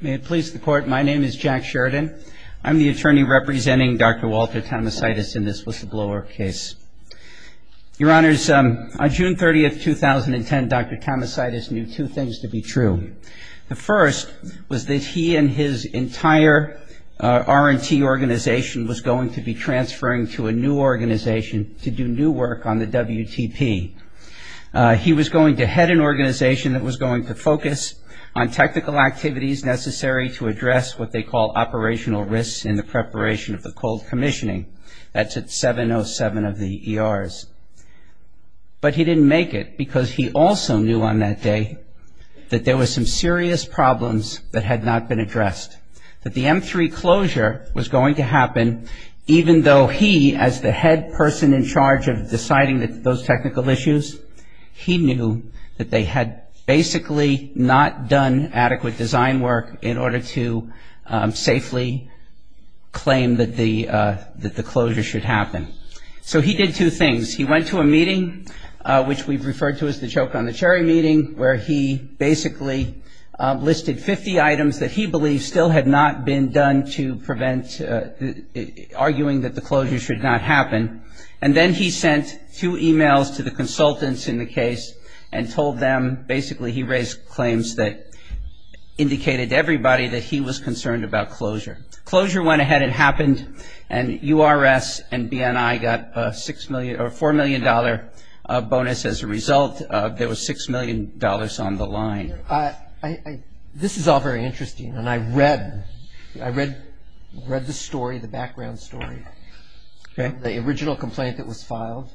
May it please the Court, my name is Jack Sheridan. I'm the attorney representing Dr. Walter Tamosaitis in this whistleblower case. Your Honors, on June 30th, 2010, Dr. Tamosaitis knew two things to be true. The first was that he and his entire R&T organization was going to be transferring to a new organization to do new work on the WTP. He was going to head an organization that was going to focus on technical activities necessary to address what they call operational risks in the preparation of the cold commissioning. That's at 707 of the ERs. But he didn't make it because he also knew on that day that there were some serious problems that had not been addressed. That the M3 closure was going to happen even though he, as the head person in charge of deciding those technical issues, he knew that they had basically not done adequate design work in order to safely claim that the closure should happen. So he did two things. He went to a meeting, which we've referred to as the joke on the cherry meeting, where he basically listed 50 items that he believed still had not been done to prevent arguing that the closure should not happen. And then he sent two e-mails to the consultants in the case and told them, basically, he raised claims that indicated to everybody that he was concerned about closure. Closure went ahead. It happened. And URS and BNI got a $4 million bonus as a result. There was $6 million on the line. This is all very interesting. And I read the story, the background story. Okay. The original complaint that was filed,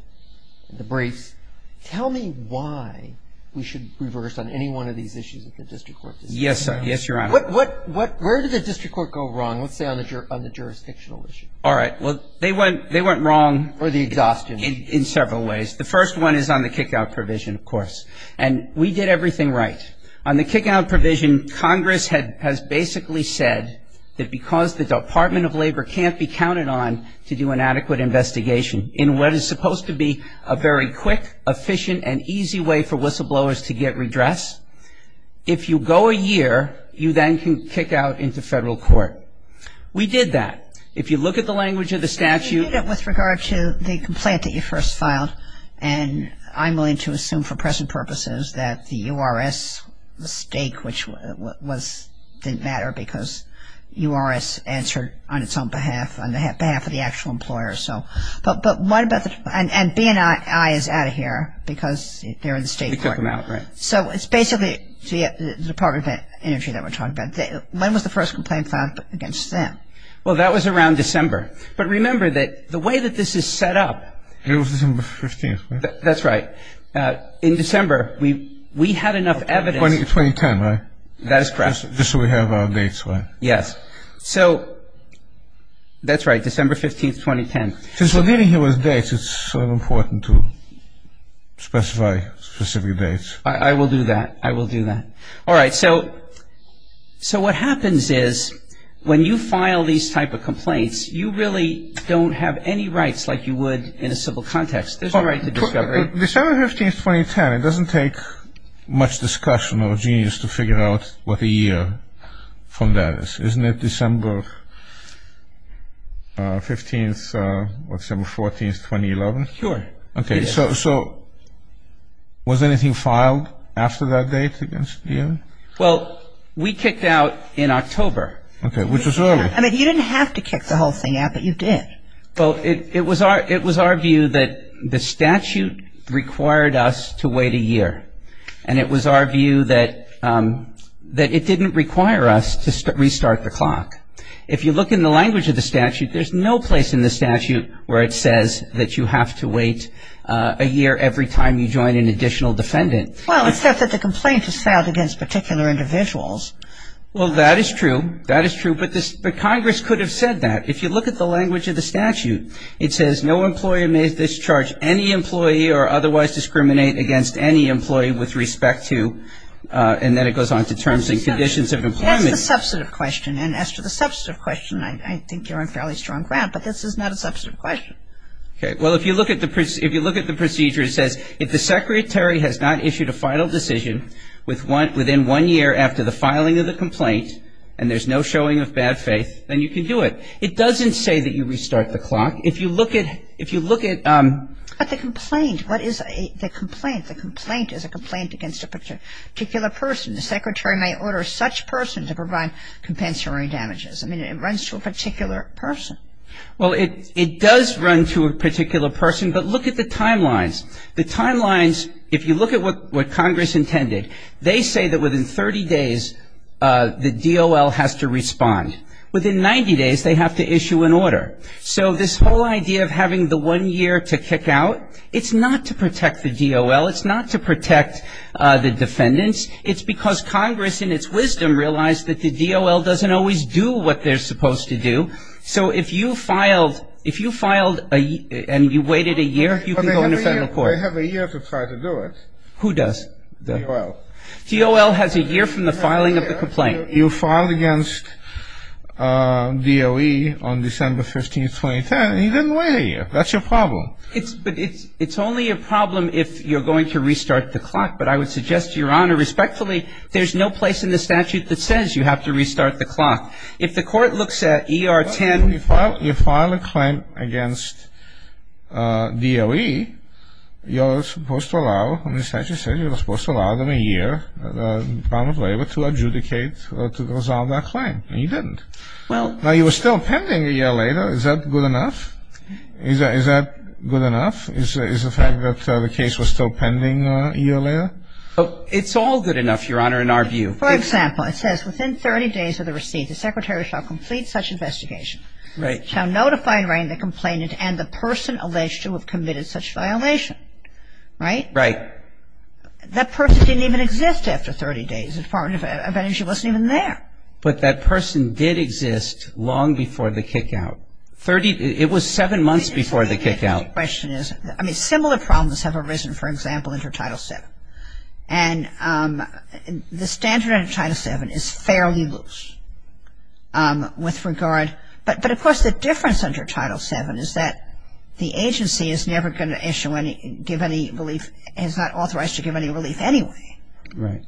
the briefs. Tell me why we should reverse on any one of these issues that the district court decided. Yes, Your Honor. Where did the district court go wrong, let's say, on the jurisdictional issue? All right. Well, they went wrong in several ways. The first one is on the kick-out provision, of course. And we did everything right. On the kick-out provision, Congress has basically said that because the Department of Labor can't be counted on to do an adequate investigation in what is supposed to be a very quick, efficient, and easy way for whistleblowers to get redress, if you go a year, you then can kick out into federal court. We did that. If you look at the language of the statute. You did it with regard to the complaint that you first filed. And I'm willing to assume for present purposes that the URS mistake, which was, didn't matter because URS answered on its own behalf, on behalf of the actual employer. So, but what about the, and BNI is out of here because they're in the state court. They took them out, right. So, it's basically the Department of Energy that we're talking about. When was the first complaint filed against them? Well, that was around December. But remember that the way that this is set up. It was December 15th, right? That's right. In December, we had enough evidence. 2010, right? That is correct. Just so we have our dates, right? Yes. So, that's right. December 15th, 2010. Since we're dealing here with dates, it's sort of important to specify specific dates. I will do that. I will do that. All right. So, what happens is when you file these type of complaints, you really don't have any rights like you would in a civil context. There's no right to discovery. December 15th, 2010. It doesn't take much discussion or genius to figure out what the year from that is. Isn't it December 15th, what, December 14th, 2011? Sure. Okay. So, was anything filed after that date against you? Well, we kicked out in October. Okay. Which was early. I mean, you didn't have to kick the whole thing out, but you did. Well, it was our view that the statute required us to wait a year. And it was our view that it didn't require us to restart the clock. If you look in the language of the statute, there's no place in the statute where it says that you have to wait a year every time you join an additional defendant. Well, except that the complaint is filed against particular individuals. Well, that is true. That is true. But Congress could have said that. If you look at the language of the statute, it says, no employer may discharge any employee or otherwise discriminate against any employee with respect to, and then it goes on to terms and conditions of employment. That's the substantive question. And as to the substantive question, I think you're on fairly strong ground. But this is not a substantive question. Okay. Well, if you look at the procedure, it says, if the secretary has not issued a final decision within one year after the filing of the complaint and there's no showing of bad faith, then you can do it. It doesn't say that you restart the clock. If you look at ‑‑ But the complaint, what is the complaint? The complaint is a complaint against a particular person. The secretary may order such person to provide compensatory damages. I mean, it runs to a particular person. Well, it does run to a particular person, but look at the timelines. The timelines, if you look at what Congress intended, they say that within 30 days the DOL has to respond. Within 90 days, they have to issue an order. So this whole idea of having the one year to kick out, it's not to protect the DOL. It's not to protect the defendants. It's because Congress in its wisdom realized that the DOL doesn't always do what they're supposed to do. So if you filed ‑‑ if you filed and you waited a year, you can go into federal court. They have a year to try to do it. Who does? DOL. DOL has a year from the filing of the complaint. You filed against DOE on December 15th, 2010, and you didn't wait a year. That's your problem. But it's only a problem if you're going to restart the clock. But I would suggest to Your Honor, respectfully, there's no place in the statute that says you have to restart the clock. If the court looks at ER 10 ‑‑ Well, if you file a claim against DOE, you're supposed to allow, the statute says you're supposed to allow them a year, the Department of Labor, to adjudicate or to resolve that claim. And you didn't. Well ‑‑ Now, you were still pending a year later. Is that good enough? Is that good enough? Is the fact that the case was still pending a year later? It's all good enough, Your Honor, in our view. For example, it says, within 30 days of the receipt, the secretary shall complete such investigation. Right. Shall notify Rainn, the complainant, and the person alleged to have committed such violation. Right? Right. That person didn't even exist after 30 days. The Department of Energy wasn't even there. But that person did exist long before the kickout. It was seven months before the kickout. My question is, I mean, similar problems have arisen, for example, under Title VII. And the standard under Title VII is fairly loose with regard, but of course the difference under Title VII is that the agency is never going to issue any, give any relief, is not authorized to give any relief anyway. Right.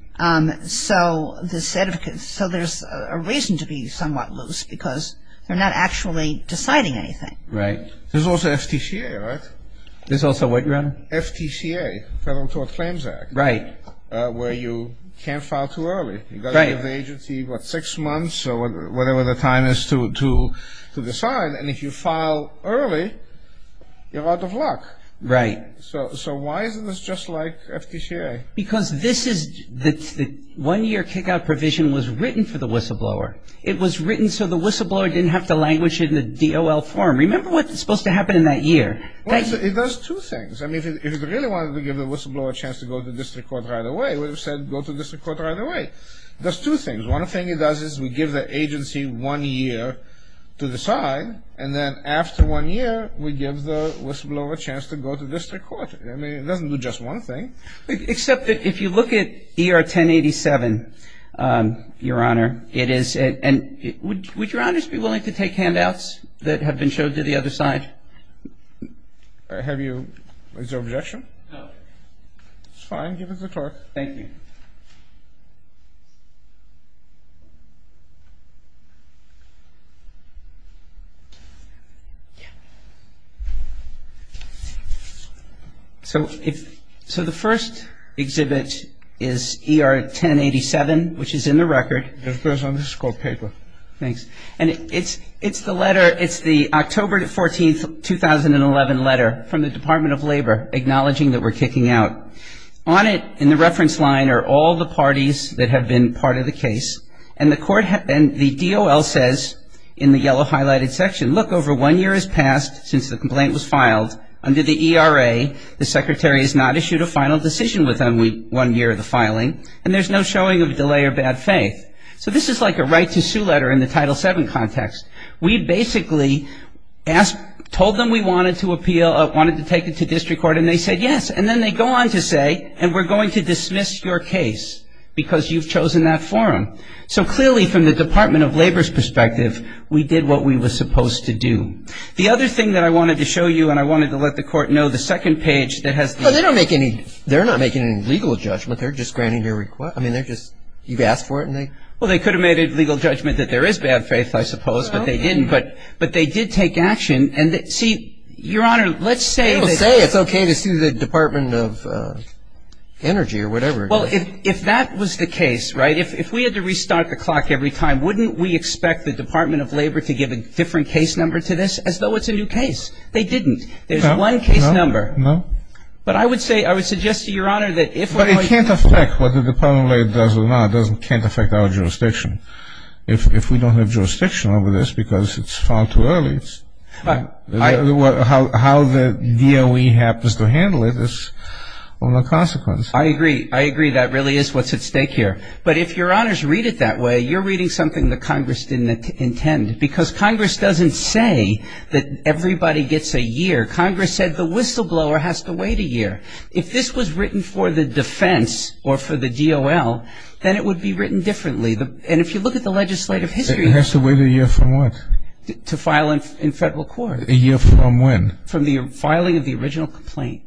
So there's a reason to be somewhat loose because they're not actually deciding anything. Right. There's also FTCA, right? There's also what, Your Honor? FTCA, Federal Tort Claims Act. Right. Where you can't file too early. You've got to give the agency, what, six months or whatever the time is to decide. And if you file early, you're out of luck. Right. So why isn't this just like FTCA? Because this is the one-year kickout provision was written for the whistleblower. It was written so the whistleblower didn't have to language it in the DOL form. Remember what's supposed to happen in that year. Well, it does two things. I mean, if it really wanted to give the whistleblower a chance to go to district court right away, it would have said go to district court right away. It does two things. One thing it does is we give the agency one year to decide, and then after one year we give the whistleblower a chance to go to district court. I mean, it doesn't do just one thing. Except that if you look at ER 1087, Your Honor, it is, and would Your Honor be willing to take handouts that have been showed to the other side? Have you? Is there objection? No. It's fine. Give us the clerk. Thank you. So the first exhibit is ER 1087, which is in the record. This is called paper. Thanks. And it's the letter, it's the October 14, 2011 letter from the Department of Labor, acknowledging that we're kicking out. On it in the reference line are all the parties that have been part of the case, and the DOL says in the yellow highlighted section, look, over one year has passed since the complaint was filed. Under the ERA, the secretary has not issued a final decision within one year of the filing, and there's no showing of delay or bad faith. So this is like a right to sue letter in the Title VII context. We basically told them we wanted to appeal, wanted to take it to district court, and they said yes, and then they go on to say, and we're going to dismiss your case because you've chosen that forum. So clearly from the Department of Labor's perspective, we did what we were supposed to do. The other thing that I wanted to show you, and I wanted to let the court know, the second page that has the ---- Well, they could have made a legal judgment that there is bad faith, I suppose, but they didn't. But they did take action, and see, Your Honor, let's say that ---- They will say it's okay to sue the Department of Energy or whatever. Well, if that was the case, right, if we had to restart the clock every time, wouldn't we expect the Department of Labor to give a different case number to this as though it's a new case? They didn't. There's one case number. No, no, no. But I would say, I would suggest to Your Honor that if ---- Well, it can't affect what the Department of Labor does or not. It can't affect our jurisdiction. If we don't have jurisdiction over this because it's filed too early, how the DOE happens to handle it is of no consequence. I agree. I agree that really is what's at stake here. But if Your Honors read it that way, you're reading something that Congress didn't intend because Congress doesn't say that everybody gets a year. Congress said the whistleblower has to wait a year. If this was written for the defense or for the DOL, then it would be written differently. And if you look at the legislative history ---- It has to wait a year from what? To file in federal court. A year from when? From the filing of the original complaint.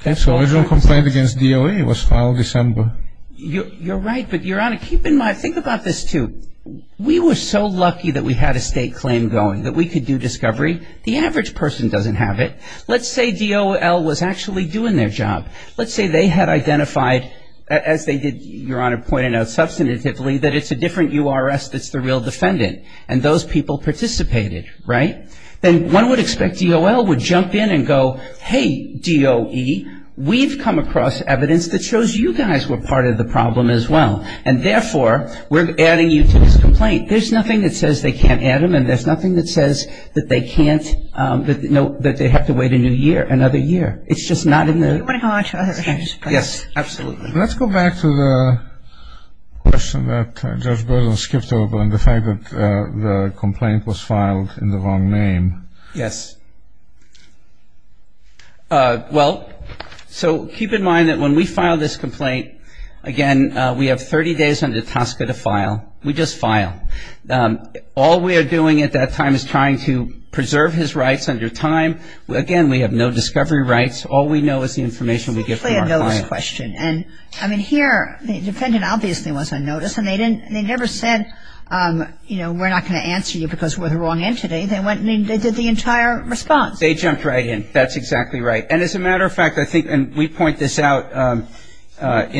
Okay. So the original complaint against DOE was filed December. You're right. But, Your Honor, keep in mind, think about this too. We were so lucky that we had a state claim going, that we could do discovery. The average person doesn't have it. Let's say DOL was actually doing their job. Let's say they had identified, as they did, Your Honor, pointed out substantively, that it's a different URS that's the real defendant. And those people participated, right? Then one would expect DOL would jump in and go, hey, DOE, we've come across evidence that shows you guys were part of the problem as well. And, therefore, we're adding you to this complaint. There's nothing that says they can't add them, and there's nothing that says that they can't, that they have to wait a new year, another year. It's just not in the. Do you want to go on to other things, please? Yes, absolutely. Let's go back to the question that Judge Bergeron skipped over and the fact that the complaint was filed in the wrong name. Yes. Well, so keep in mind that when we file this complaint, again, we have 30 days under TSCA to file. We just file. All we are doing at that time is trying to preserve his rights under time. Again, we have no discovery rights. All we know is the information we get from our client. It's simply a notice question. And, I mean, here the defendant obviously was on notice, and they never said, you know, we're not going to answer you because we're the wrong entity. They went and they did the entire response. They jumped right in. That's exactly right. And, as a matter of fact, I think, and we point this out in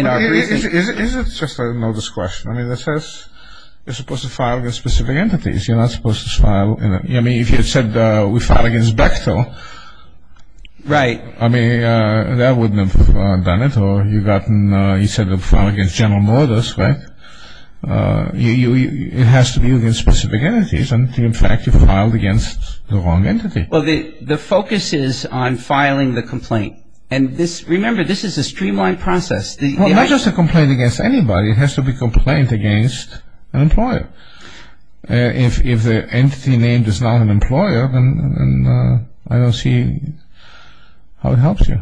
our briefing. Is it just a notice question? I mean, it says you're supposed to file against specific entities. You're not supposed to file. I mean, if you said we filed against Bechtel. Right. I mean, that wouldn't have done it. Or you said you filed against General Motors, right? It has to be against specific entities. And, in fact, you filed against the wrong entity. Well, the focus is on filing the complaint. And, remember, this is a streamlined process. Well, not just a complaint against anybody. It has to be a complaint against an employer. If the entity name is not an employer, then I don't see how it helps you.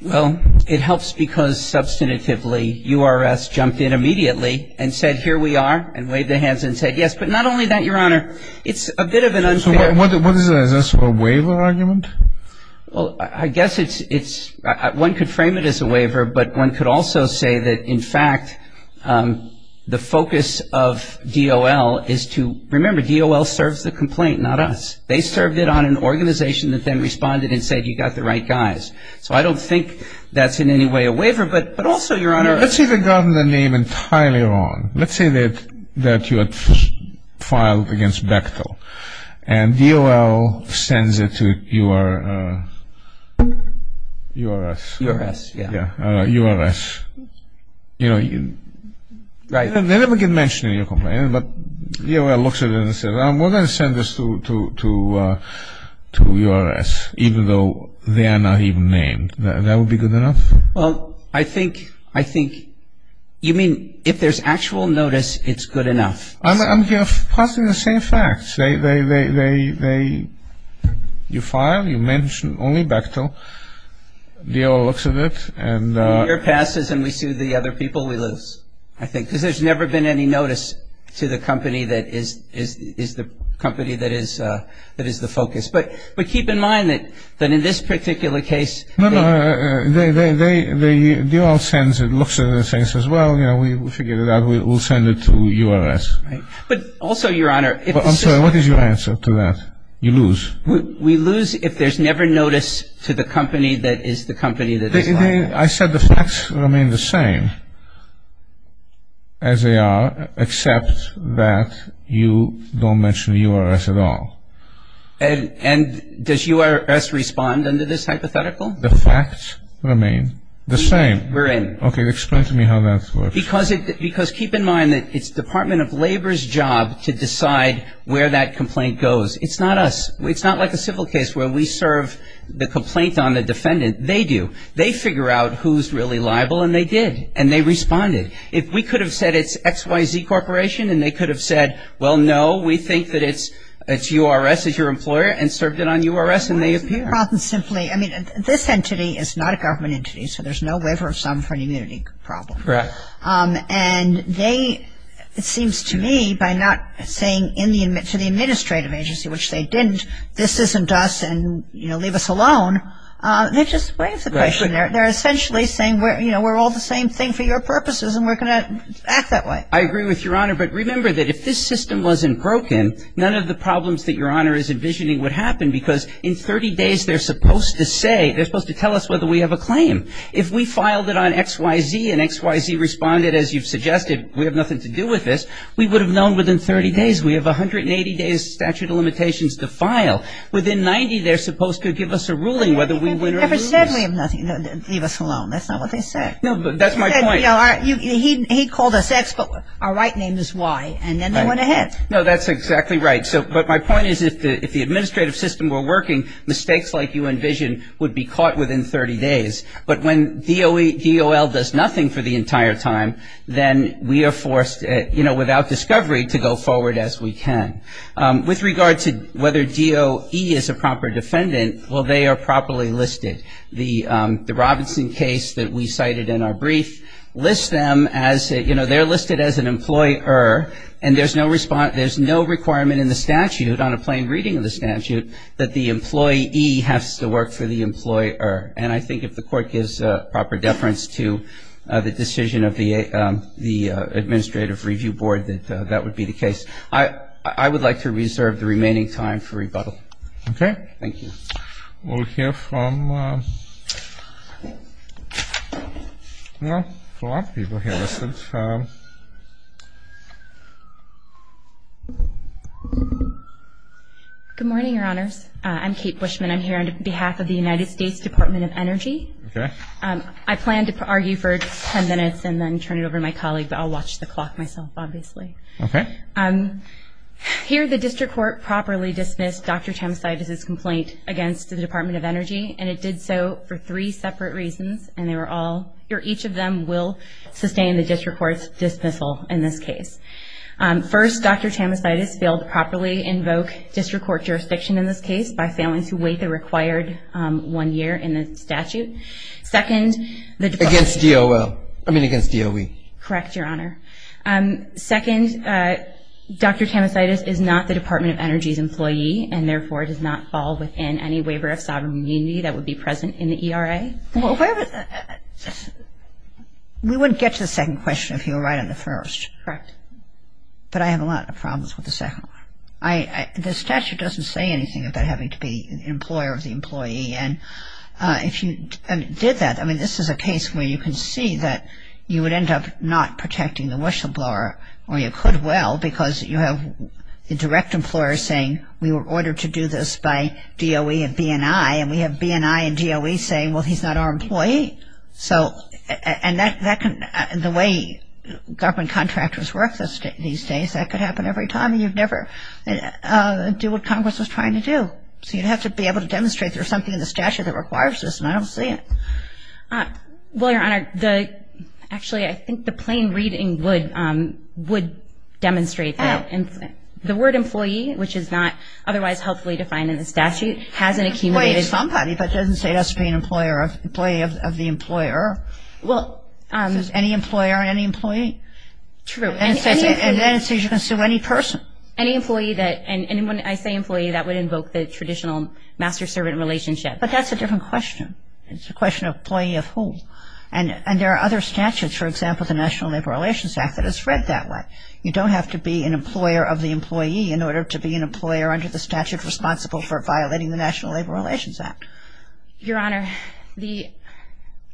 Well, it helps because, substantively, URS jumped in immediately and said here we are and waved their hands and said yes. But not only that, Your Honor, it's a bit of an unfair. So what is it? Is this a waiver argument? Well, I guess it's one could frame it as a waiver, but one could also say that, in fact, the focus of DOL is to, remember, DOL serves the complaint, not us. They served it on an organization that then responded and said you got the right guys. So I don't think that's in any way a waiver. But also, Your Honor. Let's say they got the name entirely wrong. Let's say that you had filed against Bechtel. And DOL sends it to URS. URS, yeah. URS. You know, they never get mentioned in your complaint, but DOL looks at it and says we're going to send this to URS, even though they are not even named. That would be good enough? Well, I think you mean if there's actual notice, it's good enough. I'm passing the same facts. You file, you mention only Bechtel. DOL looks at it. The year passes and we sue the other people, we lose, I think. Because there's never been any notice to the company that is the focus. But keep in mind that in this particular case. No, no. DOL looks at it and says, well, we figured it out, we'll send it to URS. Right. But also, Your Honor. I'm sorry, what is your answer to that? You lose. We lose if there's never notice to the company that is the company that is filing. I said the facts remain the same as they are, except that you don't mention URS at all. And does URS respond under this hypothetical? The facts remain the same. We're in. Okay, explain to me how that works. Because keep in mind that it's Department of Labor's job to decide where that complaint goes. It's not us. It's not like a civil case where we serve the complaint on the defendant. They do. They figure out who's really liable and they did. And they responded. If we could have said it's XYZ Corporation and they could have said, well, no, we think that it's URS, it's your employer, and served it on URS and they appear. The problem is simply, I mean, this entity is not a government entity, so there's no waiver of sum for an immunity problem. Correct. And they, it seems to me, by not saying to the administrative agency, which they didn't, this isn't us and, you know, leave us alone, they've just waived the question. They're essentially saying, you know, we're all the same thing for your purposes and we're going to act that way. I agree with Your Honor. But remember that if this system wasn't broken, none of the problems that Your Honor is envisioning would happen because in 30 days they're supposed to say, they're supposed to tell us whether we have a claim. If we filed it on XYZ and XYZ responded, as you've suggested, we have nothing to do with this, we would have known within 30 days, we have 180 days statute of limitations to file. Within 90, they're supposed to give us a ruling whether we win or lose. They never said we have nothing, leave us alone. That's not what they said. No, but that's my point. He called us X, but our right name is Y, and then they went ahead. No, that's exactly right. But my point is if the administrative system were working, mistakes like you envisioned would be caught within 30 days. But when DOL does nothing for the entire time, then we are forced, you know, without discovery to go forward as we can. With regard to whether DOE is a proper defendant, well, they are properly listed. The Robinson case that we cited in our brief lists them as, you know, they're listed as an employer and there's no requirement in the statute, on a plain reading of the statute, that the employee has to work for the employer. And I think if the court gives proper deference to the decision of the administrative review board that that would be the case. I would like to reserve the remaining time for rebuttal. Okay. Thank you. We'll hear from, you know, a lot of people here. Good morning, Your Honors. I'm Kate Bushman. I'm here on behalf of the United States Department of Energy. Okay. I plan to argue for 10 minutes and then turn it over to my colleague, but I'll watch the clock myself, obviously. Okay. Here the district court properly dismissed Dr. Tamasitis' complaint against the Department of Energy, and it did so for three separate reasons, and they were all, or each of them will sustain the district court's dismissal in this case. First, Dr. Tamasitis failed to properly invoke district court jurisdiction in this case by failing to wait the required one year in the statute. Second, the department. Against DOL. I mean against DOE. Correct, Your Honor. Second, Dr. Tamasitis is not the Department of Energy's employee and therefore does not fall within any waiver of sovereign immunity that would be present in the ERA. We wouldn't get to the second question if you were right on the first. Correct. But I have a lot of problems with the second one. The statute doesn't say anything about having to be an employer of the employee, and if you did that, I mean, this is a case where you can see that you would end up not protecting the whistleblower, or you could well because you have the direct employer saying we were ordered to do this by DOE and B&I, and we have B&I and DOE saying, well, he's not our employee. So, and that can, the way government contractors work these days, that could happen every time and you'd never do what Congress was trying to do. So you'd have to be able to demonstrate there's something in the statute that requires this, and I don't see it. Well, Your Honor, the, actually I think the plain reading would demonstrate that. Oh. The word employee, which is not otherwise helpfully defined in the statute, hasn't accumulated. Well, it's somebody, but it doesn't say it has to be an employee of the employer. Well. So it's any employer and any employee? True. And then it says you can sue any person. Any employee that, and when I say employee, that would invoke the traditional master-servant relationship. But that's a different question. It's a question of employee of whom. And there are other statutes, for example, the National Labor Relations Act that is read that way. You don't have to be an employer of the employee in order to be an employer under the statute responsible for violating the National Labor Relations Act. Your Honor, the,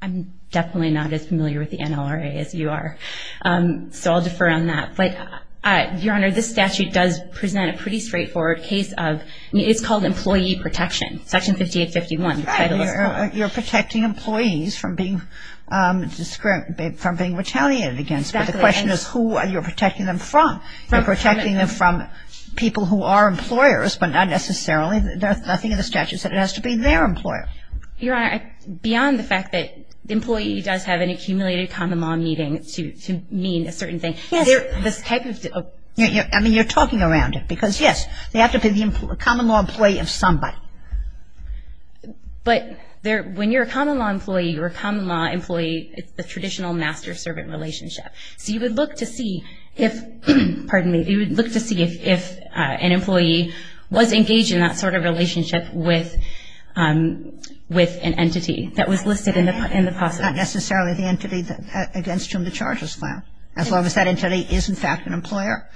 I'm definitely not as familiar with the NLRA as you are, so I'll defer on that. But, Your Honor, this statute does present a pretty straightforward case of, it's called employee protection, Section 5851. You're protecting employees from being, from being retaliated against. Exactly. But the question is who you're protecting them from. You're protecting them from people who are employers, but not necessarily, nothing in the statute says it has to be their employer. Your Honor, beyond the fact that employee does have an accumulated common law meeting to mean a certain thing. Yes. This type of. I mean, you're talking around it, because, yes, they have to be the common law employee of somebody. But when you're a common law employee, you're a common law employee, it's the traditional master-servant relationship. So you would look to see if, pardon me, you would look to see if an employee was engaged in that sort of relationship with an entity that was listed in the process. Not necessarily the entity against whom the charges fell, as long as that entity is, in fact, an employer.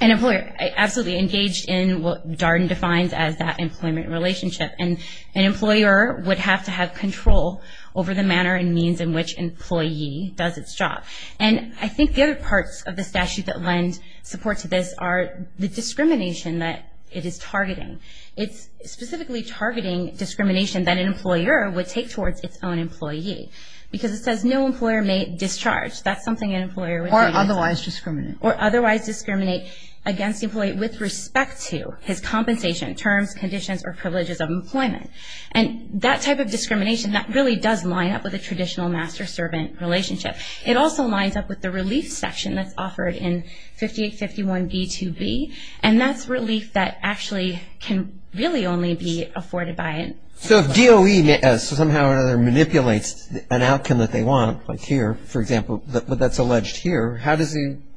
An employer absolutely engaged in what Darden defines as that employment relationship. And an employer would have to have control over the manner and means in which an employee does its job. And I think the other parts of the statute that lend support to this are the discrimination that it is targeting. It's specifically targeting discrimination that an employer would take towards its own employee. Because it says no employer may discharge. That's something an employer would. Or otherwise discriminate. Or otherwise discriminate against the employee with respect to his compensation, terms, conditions, or privileges of employment. And that type of discrimination, that really does line up with a traditional master-servant relationship. It also lines up with the relief section that's offered in 5851b2b. And that's relief that actually can really only be afforded by an employer. So if DOE somehow or other manipulates an outcome that they want, like here, for example, but that's alleged here, how does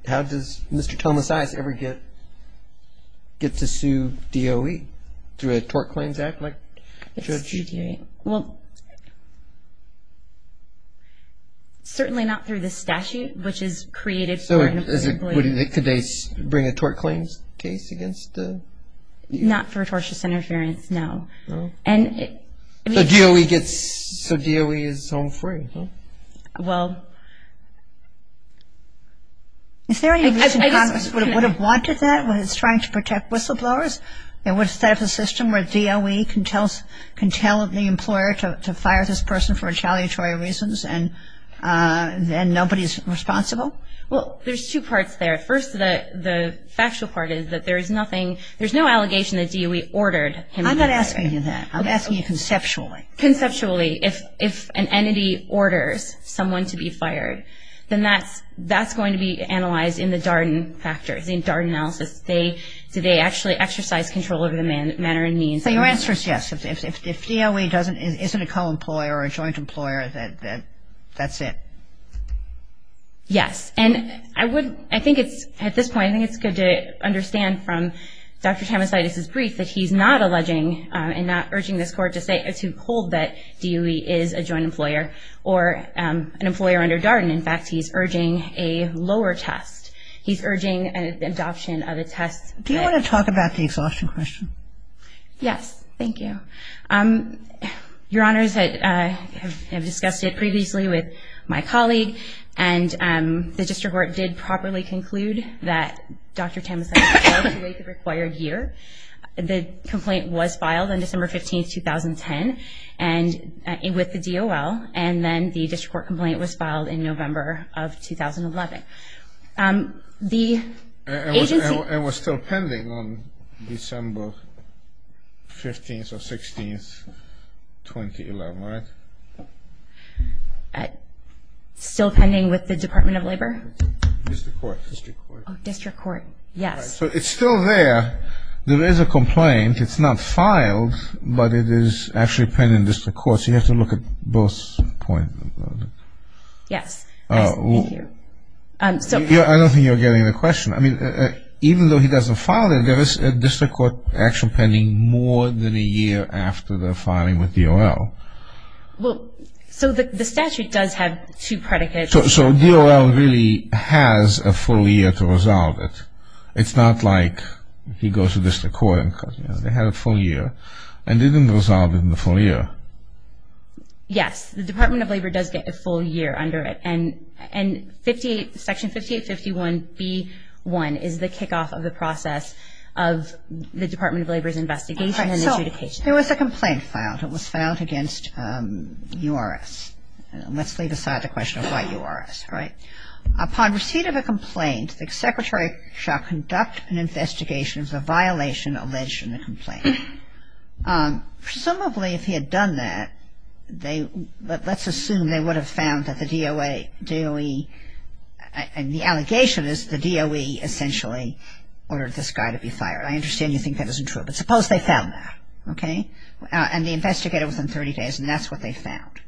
Mr. Thomas Ice ever get to sue DOE? Through a tort claims act? Well, certainly not through this statute, which is created for an employee. Could they bring a tort claims case against the employee? Not for tortious interference, no. So DOE is home free, huh? Well, is there any reason Congress would have wanted that when it's trying to protect whistleblowers? It would have set up a system where DOE can tell the employer to fire this person for retaliatory reasons and nobody's responsible? Well, there's two parts there. First, the factual part is that there's no allegation that DOE ordered him to fire. I'm not asking you that. I'm asking you conceptually. Conceptually. If an entity orders someone to be fired, then that's going to be analyzed in the Darden factors, in Darden analysis. Do they actually exercise control over the manner and means? So your answer is yes. If DOE isn't a co-employer or a joint employer, then that's it. Yes. And I think at this point, I think it's good to understand from Dr. Thomas Ice's brief that he's not alleging and not urging this Court to hold that DOE is a joint employer or an employer under Darden. In fact, he's urging a lower test. He's urging an adoption of a test. Do you want to talk about the exhaustion question? Yes. Thank you. Your Honors, I have discussed it previously with my colleague, and the District Court did properly conclude that Dr. Thomas Ice failed to wait the required year. The complaint was filed on December 15, 2010 with the DOL, and then the District Court complaint was filed in November of 2011. And it was still pending on December 15 or 16, 2011, right? Still pending with the Department of Labor? District Court. District Court, yes. So it's still there. There is a complaint. It's not filed, but it is actually pending in District Court, so you have to look at both points. Yes. Thank you. I don't think you're getting the question. I mean, even though he doesn't file it, there is a District Court action pending more than a year after the filing with DOL. Well, so the statute does have two predicates. So DOL really has a full year to resolve it. It's not like he goes to District Court and says, you know, they had a full year, and they didn't resolve it in the full year. Yes. The Department of Labor does get a full year under it, and Section 5851B1 is the kickoff of the process of the Department of Labor's investigation and adjudication. So there was a complaint filed. It was filed against URS. Let's leave aside the question of why URS, right? Upon receipt of a complaint, the Secretary shall conduct an investigation of the violation alleged in the complaint. Presumably if he had done that, let's assume they would have found that the DOE, and the allegation is the DOE essentially ordered this guy to be fired. I understand you think that isn't true, but suppose they found that, okay? And they investigate it within 30 days, and that's what they found.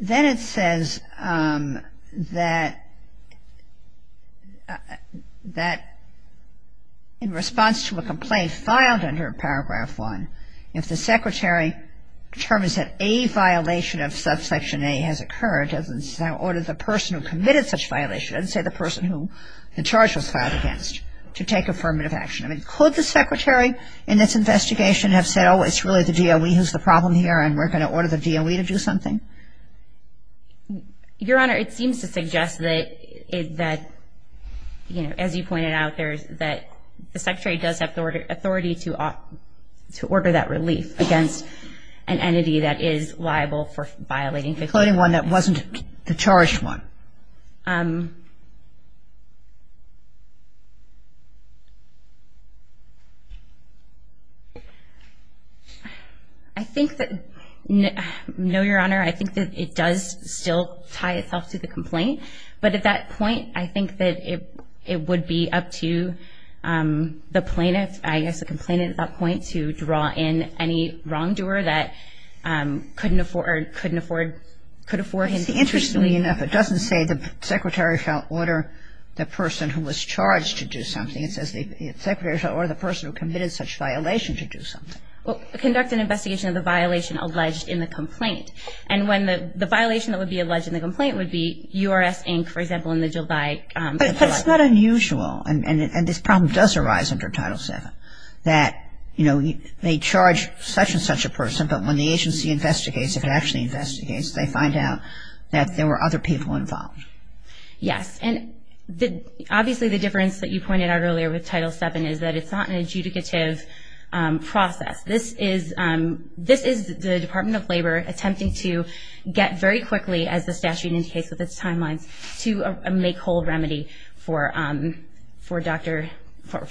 Then it says that in response to a complaint filed under Paragraph 1, if the Secretary determines that a violation of Subsection A has occurred, or the person who committed such violation, let's say the person who the charge was filed against, to take affirmative action. I mean, could the Secretary in this investigation have said, oh, it's really the DOE who's the problem here, and we're going to order the DOE to do something? Your Honor, it seems to suggest that, you know, as you pointed out, that the Secretary does have authority to order that relief against an entity that is liable for violating Subsection A. Including one that wasn't the charged one. I think that, no, Your Honor, I think that it does still tie itself to the complaint. But at that point, I think that it would be up to the plaintiff, I guess the complainant at that point, to draw in any wrongdoer that couldn't afford or couldn't afford, could afford. Interestingly enough, it doesn't say the Secretary shall order the person who was charged to do something. It says the Secretary shall order the person who committed such violation to do something. Well, conduct an investigation of the violation alleged in the complaint. And when the violation that would be alleged in the complaint would be URS, Inc., for example, in the Jill Dye case. But it's not unusual, and this problem does arise under Title VII, that, you know, they charge such and such a person, but when the agency investigates, if it actually investigates, they find out that there were other people involved. Yes. And obviously the difference that you pointed out earlier with Title VII is that it's not an adjudicative process. This is the Department of Labor attempting to get very quickly, as the statute indicates with its timelines, to a make-whole remedy for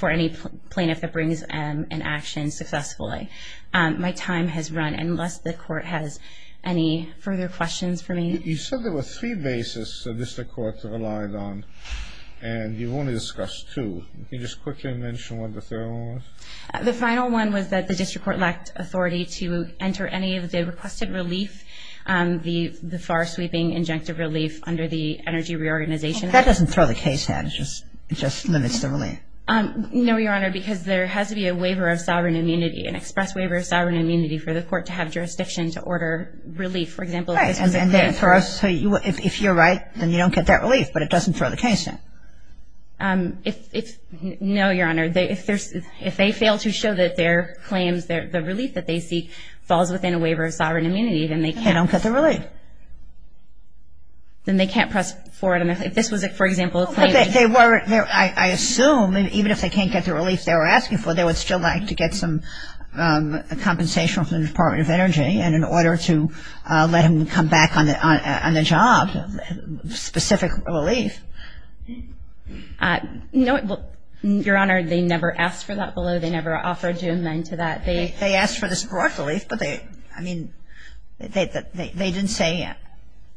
any plaintiff that brings an action successfully. My time has run, unless the Court has any further questions for me. You said there were three bases the district courts relied on, and you've only discussed two. Can you just quickly mention what the third one was? The final one was that the district court lacked authority to enter any of the requested relief, the FAR-sweeping injunctive relief under the Energy Reorganization Act. That doesn't throw the case out. It just limits the relief. No, Your Honor, because there has to be a waiver of sovereign immunity, an express waiver of sovereign immunity, for the court to have jurisdiction to order relief, for example, If you're right, then you don't get that relief, but it doesn't throw the case out. No, Your Honor. If they fail to show that their claims, the relief that they seek, falls within a waiver of sovereign immunity, then they can't. They don't get the relief. Then they can't press forward. If this was, for example, a claim. I assume, even if they can't get the relief they were asking for, they would still like to get some compensation from the Department of Energy and in order to let them come back on the job, specific relief. No, Your Honor, they never asked for that below. They never offered to amend to that. They asked for this broad relief, but they didn't say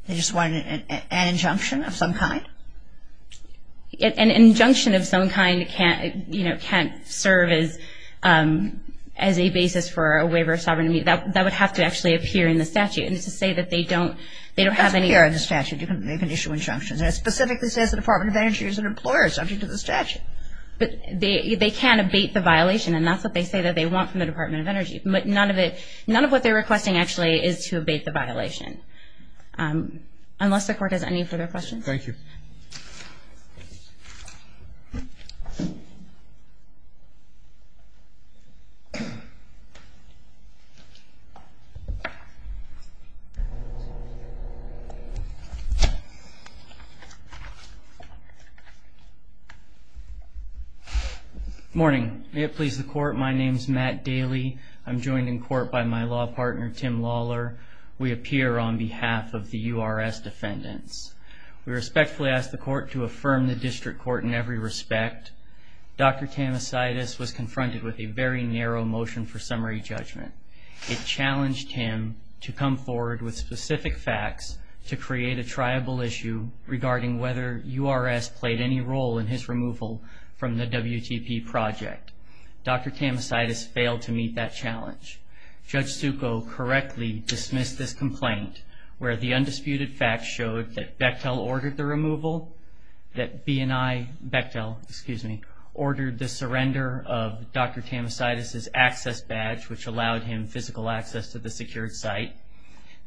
they just wanted an injunction of some kind? An injunction of some kind can't serve as a basis for a waiver of sovereign immunity. That would have to actually appear in the statute. And to say that they don't have any… It doesn't appear in the statute. They can issue injunctions. It specifically says the Department of Energy is an employer subject to the statute. But they can abate the violation, and that's what they say that they want from the Department of Energy. But none of what they're requesting, actually, is to abate the violation. Unless the Court has any further questions? Thank you. Thank you. Good morning. May it please the Court, my name is Matt Daly. I'm joined in court by my law partner, Tim Lawler. We appear on behalf of the URS defendants. We respectfully ask the Court to affirm the district court in every respect. Dr. Tamasitis was confronted with a very narrow motion for summary judgment. It challenged him to come forward with specific facts to create a triable issue regarding whether URS played any role in his removal from the WTP project. Dr. Tamasitis failed to meet that challenge. Judge Succo correctly dismissed this complaint, where the undisputed facts showed that Bechtel ordered the removal, that B and I, Bechtel, excuse me, ordered the surrender of Dr. Tamasitis' access badge, which allowed him physical access to the secured site,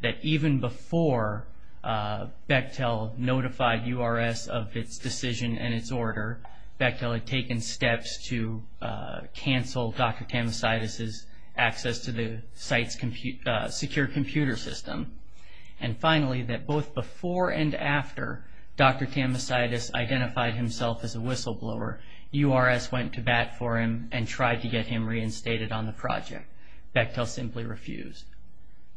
that even before Bechtel notified URS of its decision and its order, Bechtel had taken steps to cancel Dr. Tamasitis' access to the site's secure computer system. And finally, that both before and after Dr. Tamasitis identified himself as a whistleblower, URS went to bat for him and tried to get him reinstated on the project. Bechtel simply refused.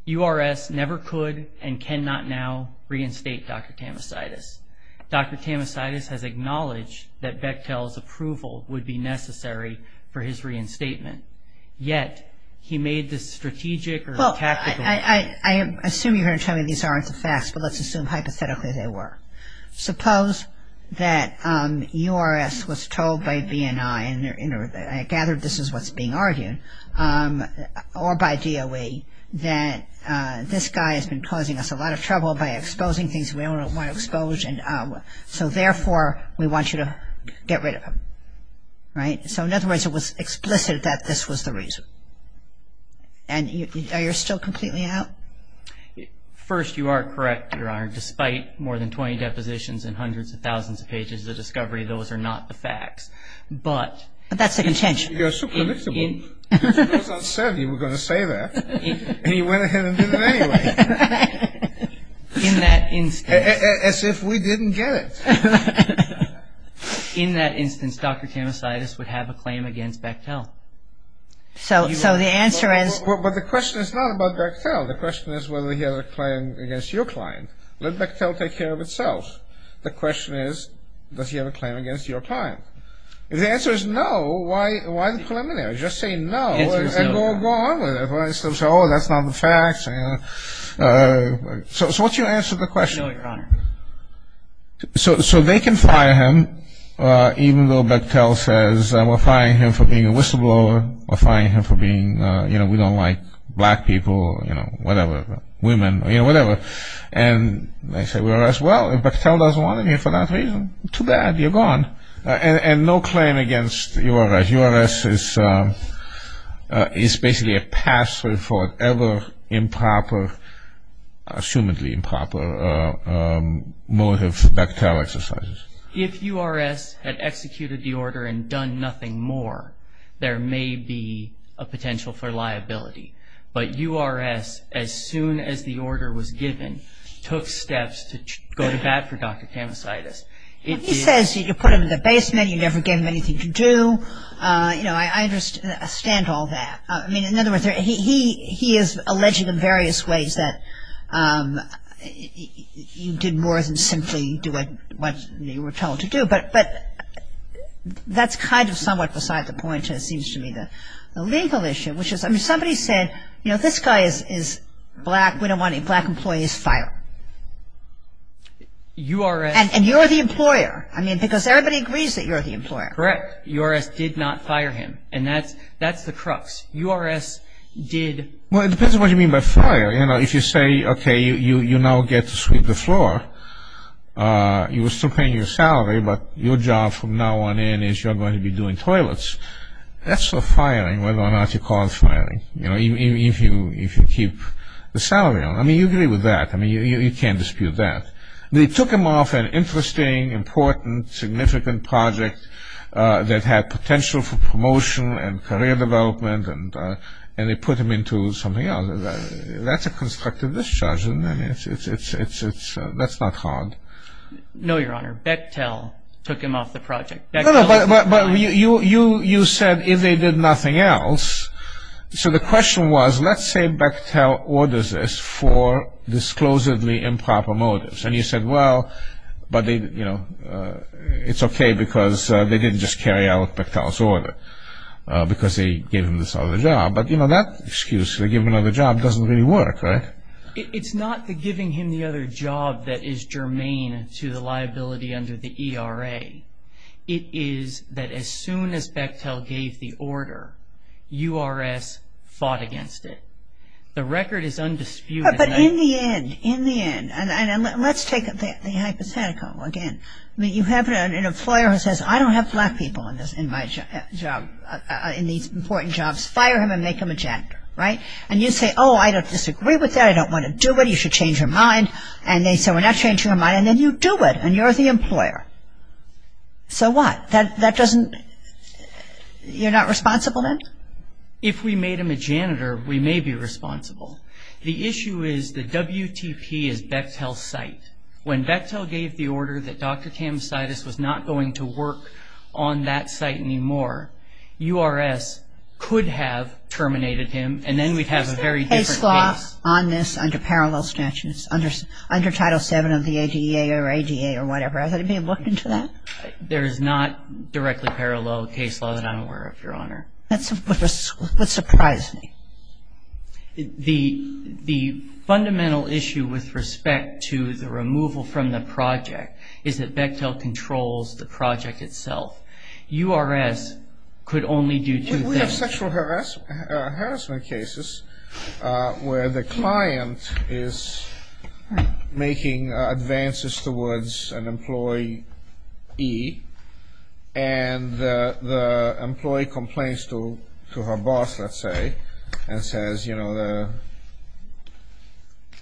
URS never could and cannot now reinstate Dr. Tamasitis. Dr. Tamasitis has acknowledged that Bechtel's approval would be necessary for his reinstatement, yet he made this strategic or tactical... Well, I assume you're going to tell me these aren't the facts, but let's assume hypothetically they were. Suppose that URS was told by B and I, and I gather this is what's being argued, or by DOE, that this guy has been causing us a lot of trouble by exposing things we don't want to expose, so therefore we want you to get rid of him, right? So in other words, it was explicit that this was the reason. And are you still completely out? First, you are correct, Your Honor. Despite more than 20 depositions and hundreds of thousands of pages of discovery, those are not the facts. But... But that's the contention. You're so predictable. Because URS said he was going to say that, and he went ahead and did it anyway. In that instance... As if we didn't get it. In that instance, Dr. Tamasidis would have a claim against Bechtel. So the answer is... But the question is not about Bechtel. The question is whether he has a claim against your client. Let Bechtel take care of itself. The question is, does he have a claim against your client? If the answer is no, why the preliminary? Just say no and go on with it. Oh, that's not the facts. So what's your answer to the question? No, Your Honor. So they can fire him, even though Bechtel says, we're firing him for being a whistleblower, we're firing him for being, you know, we don't like black people, you know, whatever, women, you know, whatever. And they say, well, if Bechtel doesn't want him here for that reason, too bad, you're gone. And no claim against URS. URS is basically a password for ever improper, assumedly improper, motive Bechtel exercises. If URS had executed the order and done nothing more, there may be a potential for liability. But URS, as soon as the order was given, took steps to go to bat for Dr. Tamasidis. He says you put him in the basement, you never gave him anything to do. You know, I understand all that. I mean, in other words, he is alleging in various ways that you did more than simply do what you were told to do. But that's kind of somewhat beside the point, it seems to me, the legal issue, which is, I mean, somebody said, you know, this guy is black, we don't want any black employees fired. And you're the employer. I mean, because everybody agrees that you're the employer. Correct. URS did not fire him. And that's the crux. URS did. Well, it depends on what you mean by fire. You know, if you say, okay, you now get to sweep the floor, you were still paying your salary, but your job from now on in is you're going to be doing toilets. That's for firing, whether or not you cause firing, you know, if you keep the salary on. I mean, you agree with that. I mean, you can't dispute that. They took him off an interesting, important, significant project that had potential for promotion and career development, and they put him into something else. That's a constructive discharge. I mean, that's not hard. No, Your Honor. Bechtel took him off the project. No, no, but you said if they did nothing else. So the question was, let's say Bechtel orders this for disclosedly improper motives. And you said, well, but they, you know, it's okay because they didn't just carry out Bechtel's order because they gave him this other job. But, you know, that excuse, they give him another job, doesn't really work, right? It's not the giving him the other job that is germane to the liability under the ERA. It is that as soon as Bechtel gave the order, URS fought against it. The record is undisputed. But in the end, in the end, and let's take the hypothetical again. I mean, you have an employer who says, I don't have black people in my job, in these important jobs. Fire him and make him a janitor, right? And you say, oh, I don't disagree with that. I don't want to do it. You should change your mind. And they say, well, now change your mind. And then you do it and you're the employer. So what? That doesn't, you're not responsible then? If we made him a janitor, we may be responsible. The issue is the WTP is Bechtel's site. When Bechtel gave the order that Dr. Kamsitis was not going to work on that site anymore, URS could have terminated him and then we'd have a very different case. Is there a case law on this under parallel statutes, under Title VII of the ADA or ADA or whatever? Has there been a book into that? There is not directly parallel case law that I'm aware of, Your Honor. That's what surprised me. The fundamental issue with respect to the removal from the project is that Bechtel controls the project itself. URS could only do two things. We have sexual harassment cases where the client is making advances towards an employee and the employee complains to her boss, let's say, and says, you know, the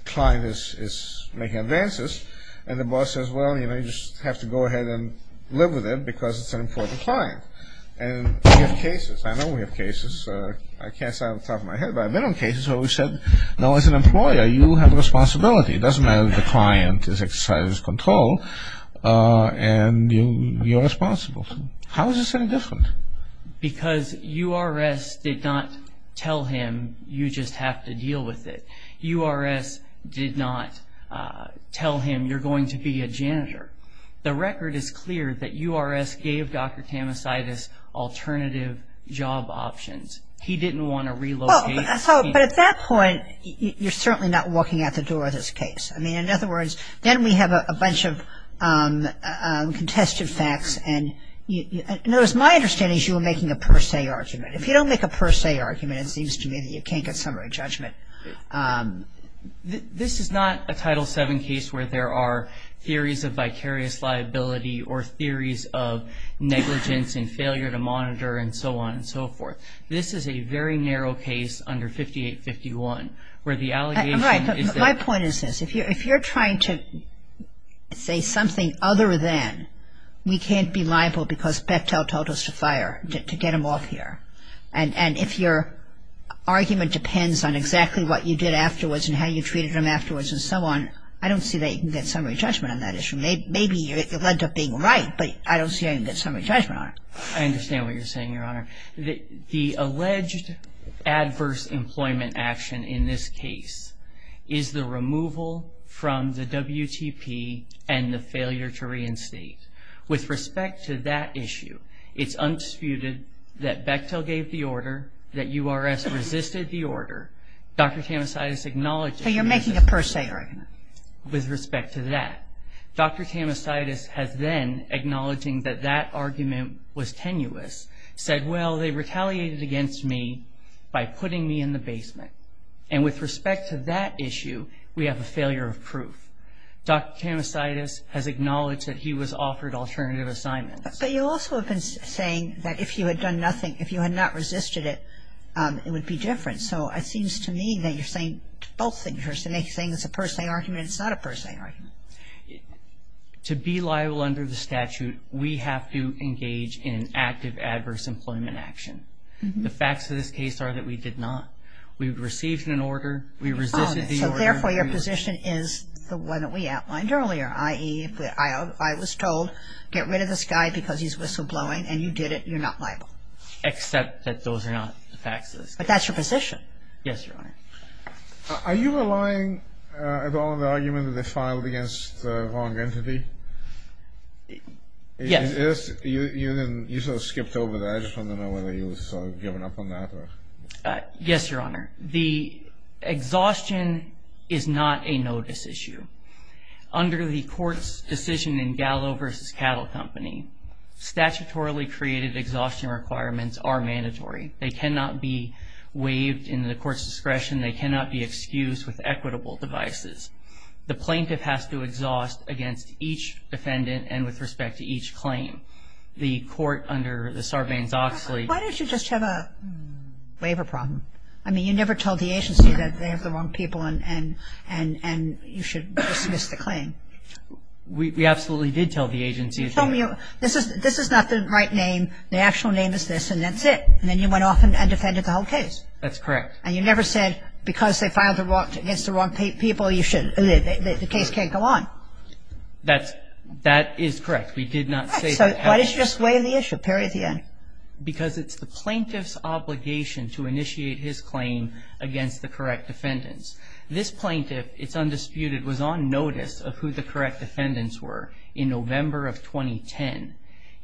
client is making advances. And the boss says, well, you know, you just have to go ahead and live with it because it's an important client. And we have cases. I know we have cases. I can't say off the top of my head, but I've been on cases where we've said, no, as an employer, you have a responsibility. It doesn't matter if the client is exercised control and you're responsible. How is this any different? Because URS did not tell him, you just have to deal with it. URS did not tell him, you're going to be a janitor. The record is clear that URS gave Dr. Tamasitis alternative job options. He didn't want to relocate. But at that point, you're certainly not walking out the door of this case. I mean, in other words, then we have a bunch of contested facts. And my understanding is you were making a per se argument. If you don't make a per se argument, it seems to me that you can't get summary judgment. This is not a Title VII case where there are theories of vicarious liability or theories of negligence and failure to monitor and so on and so forth. This is a very narrow case under 5851 where the allegation is that – Right, but my point is this. If you're trying to say something other than we can't be liable because Bechtel told us to fire, to get him off here, and if your argument depends on exactly what you did afterwards and how you treated him afterwards and so on, I don't see that you can get summary judgment on that issue. Maybe it led to being right, but I don't see how you can get summary judgment on it. I understand what you're saying, Your Honor. The alleged adverse employment action in this case is the removal from the WTP and the failure to reinstate. With respect to that issue, it's undisputed that Bechtel gave the order, that URS resisted the order. Dr. Tamasitis acknowledged – So you're making a per se argument. With respect to that, Dr. Tamasitis has then, acknowledging that that argument was tenuous, said, well, they retaliated against me by putting me in the basement. And with respect to that issue, we have a failure of proof. Dr. Tamasitis has acknowledged that he was offered alternative assignments. But you also have been saying that if you had done nothing, if you had not resisted it, it would be different. So it seems to me that you're saying both things. You're saying it's a per se argument. It's not a per se argument. To be liable under the statute, we have to engage in active adverse employment action. The facts of this case are that we did not. We received an order. We resisted the order. So therefore, your position is the one that we outlined earlier, i.e., if I was told, get rid of this guy because he's whistleblowing, and you did it, you're not liable. Except that those are not the facts of this case. But that's your position. Yes, Your Honor. Are you relying at all on the argument that they filed against the wrong entity? Yes. You sort of skipped over that. I just want to know whether you've given up on that. Yes, Your Honor. The exhaustion is not a notice issue. Under the court's decision in Gallo v. Cattle Company, statutorily created exhaustion requirements are mandatory. They cannot be waived in the court's discretion. They cannot be excused with equitable devices. The plaintiff has to exhaust against each defendant and with respect to each claim. The court under the Sarbanes-Oxley. Why don't you just have a waiver problem? I mean, you never told the agency that they have the wrong people and you should dismiss the claim. We absolutely did tell the agency. You told me this is not the right name. The actual name is this, and that's it. And then you went off and defended the whole case. That's correct. And you never said because they filed against the wrong people, the case can't go on. That is correct. We did not say that. So why don't you just waive the issue, period, at the end? Because it's the plaintiff's obligation to initiate his claim against the correct defendants. This plaintiff, it's undisputed, was on notice of who the correct defendants were in November of 2010.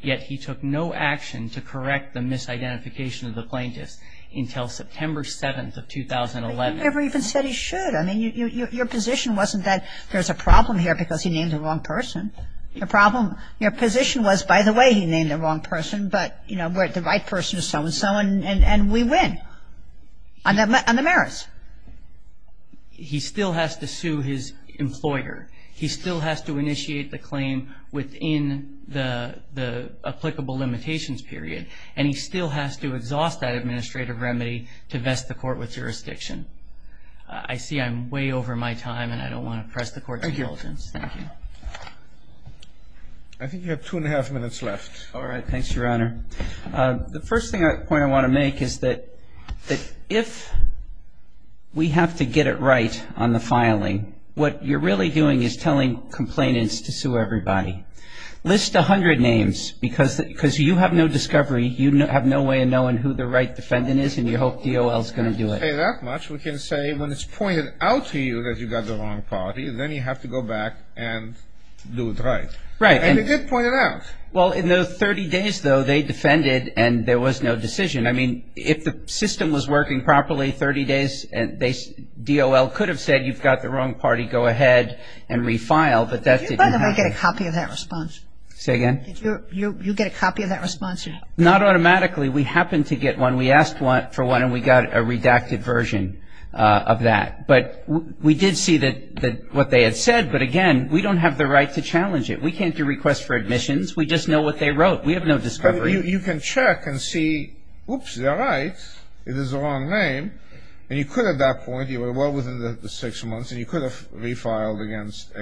Yet he took no action to correct the misidentification of the plaintiffs until September 7th of 2011. But you never even said he should. I mean, your position wasn't that there's a problem here because he named the wrong person. Your position was, by the way, he named the wrong person, but, you know, we're the right person to so-and-so, and we win on the merits. He still has to sue his employer. He still has to initiate the claim within the applicable limitations period, and he still has to exhaust that administrative remedy to vest the court with jurisdiction. I see I'm way over my time, and I don't want to press the Court's indulgence. Thank you. I think you have two and a half minutes left. All right. Thanks, Your Honor. The first point I want to make is that if we have to get it right on the filing, what you're really doing is telling complainants to sue everybody. List 100 names because you have no discovery. You have no way of knowing who the right defendant is, and you hope DOL is going to do it. We can't say that much. We can say when it's pointed out to you that you got the wrong party, then you have to go back and do it right. Right. And they did point it out. Well, in those 30 days, though, they defended, and there was no decision. I mean, if the system was working properly 30 days, DOL could have said you've got the wrong party, go ahead and refile, but that didn't happen. Did you, by the way, get a copy of that response? Say again? Did you get a copy of that response? Not automatically. We happened to get one. We asked for one, and we got a redacted version of that. But we did see what they had said, but, again, we don't have the right to challenge it. We can't do requests for admissions. We just know what they wrote. We have no discovery. But you can check and see, oops, they're right, it is the wrong name, and you could at that point, well within the six months, and you could have refiled against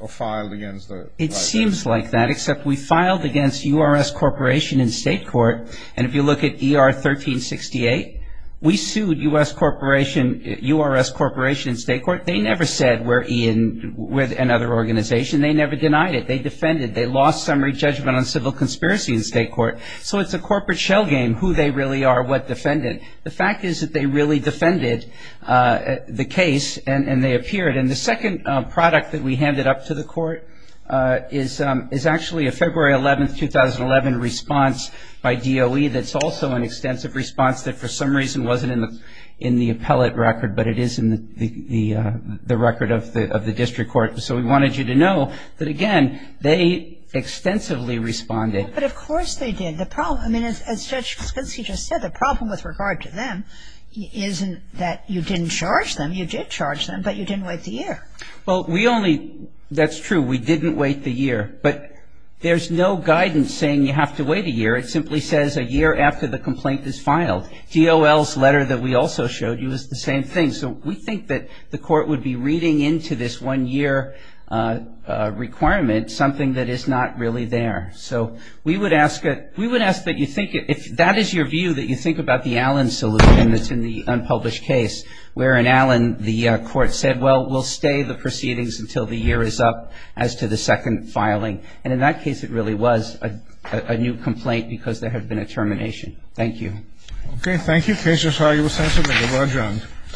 or filed against the right defendant. It seems like that, except we filed against URS Corporation in state court, and if you look at ER 1368, we sued URS Corporation in state court. They never said we're in with another organization. They never denied it. They defended it. They lost summary judgment on civil conspiracy in state court. So it's a corporate shell game who they really are, what defendant. The fact is that they really defended the case, and they appeared. And the second product that we handed up to the court is actually a February 11, 2011 response by DOE that's also an extensive response that for some reason wasn't in the appellate record, but it is in the record of the district court. So we wanted you to know that, again, they extensively responded. But, of course, they did. The problem, I mean, as Judge Spinski just said, the problem with regard to them isn't that you didn't charge them. You did charge them, but you didn't wait the year. Well, that's true. We didn't wait the year. But there's no guidance saying you have to wait a year. It simply says a year after the complaint is filed. DOL's letter that we also showed you is the same thing. So we think that the court would be reading into this one-year requirement something that is not really there. So we would ask that you think, if that is your view, that you think about the Allen solution that's in the unpublished case where, in Allen, the court said, well, we'll stay the proceedings until the year is up as to the second filing. And in that case, it really was a new complaint because there had been a termination. Thank you. Okay. Thank you.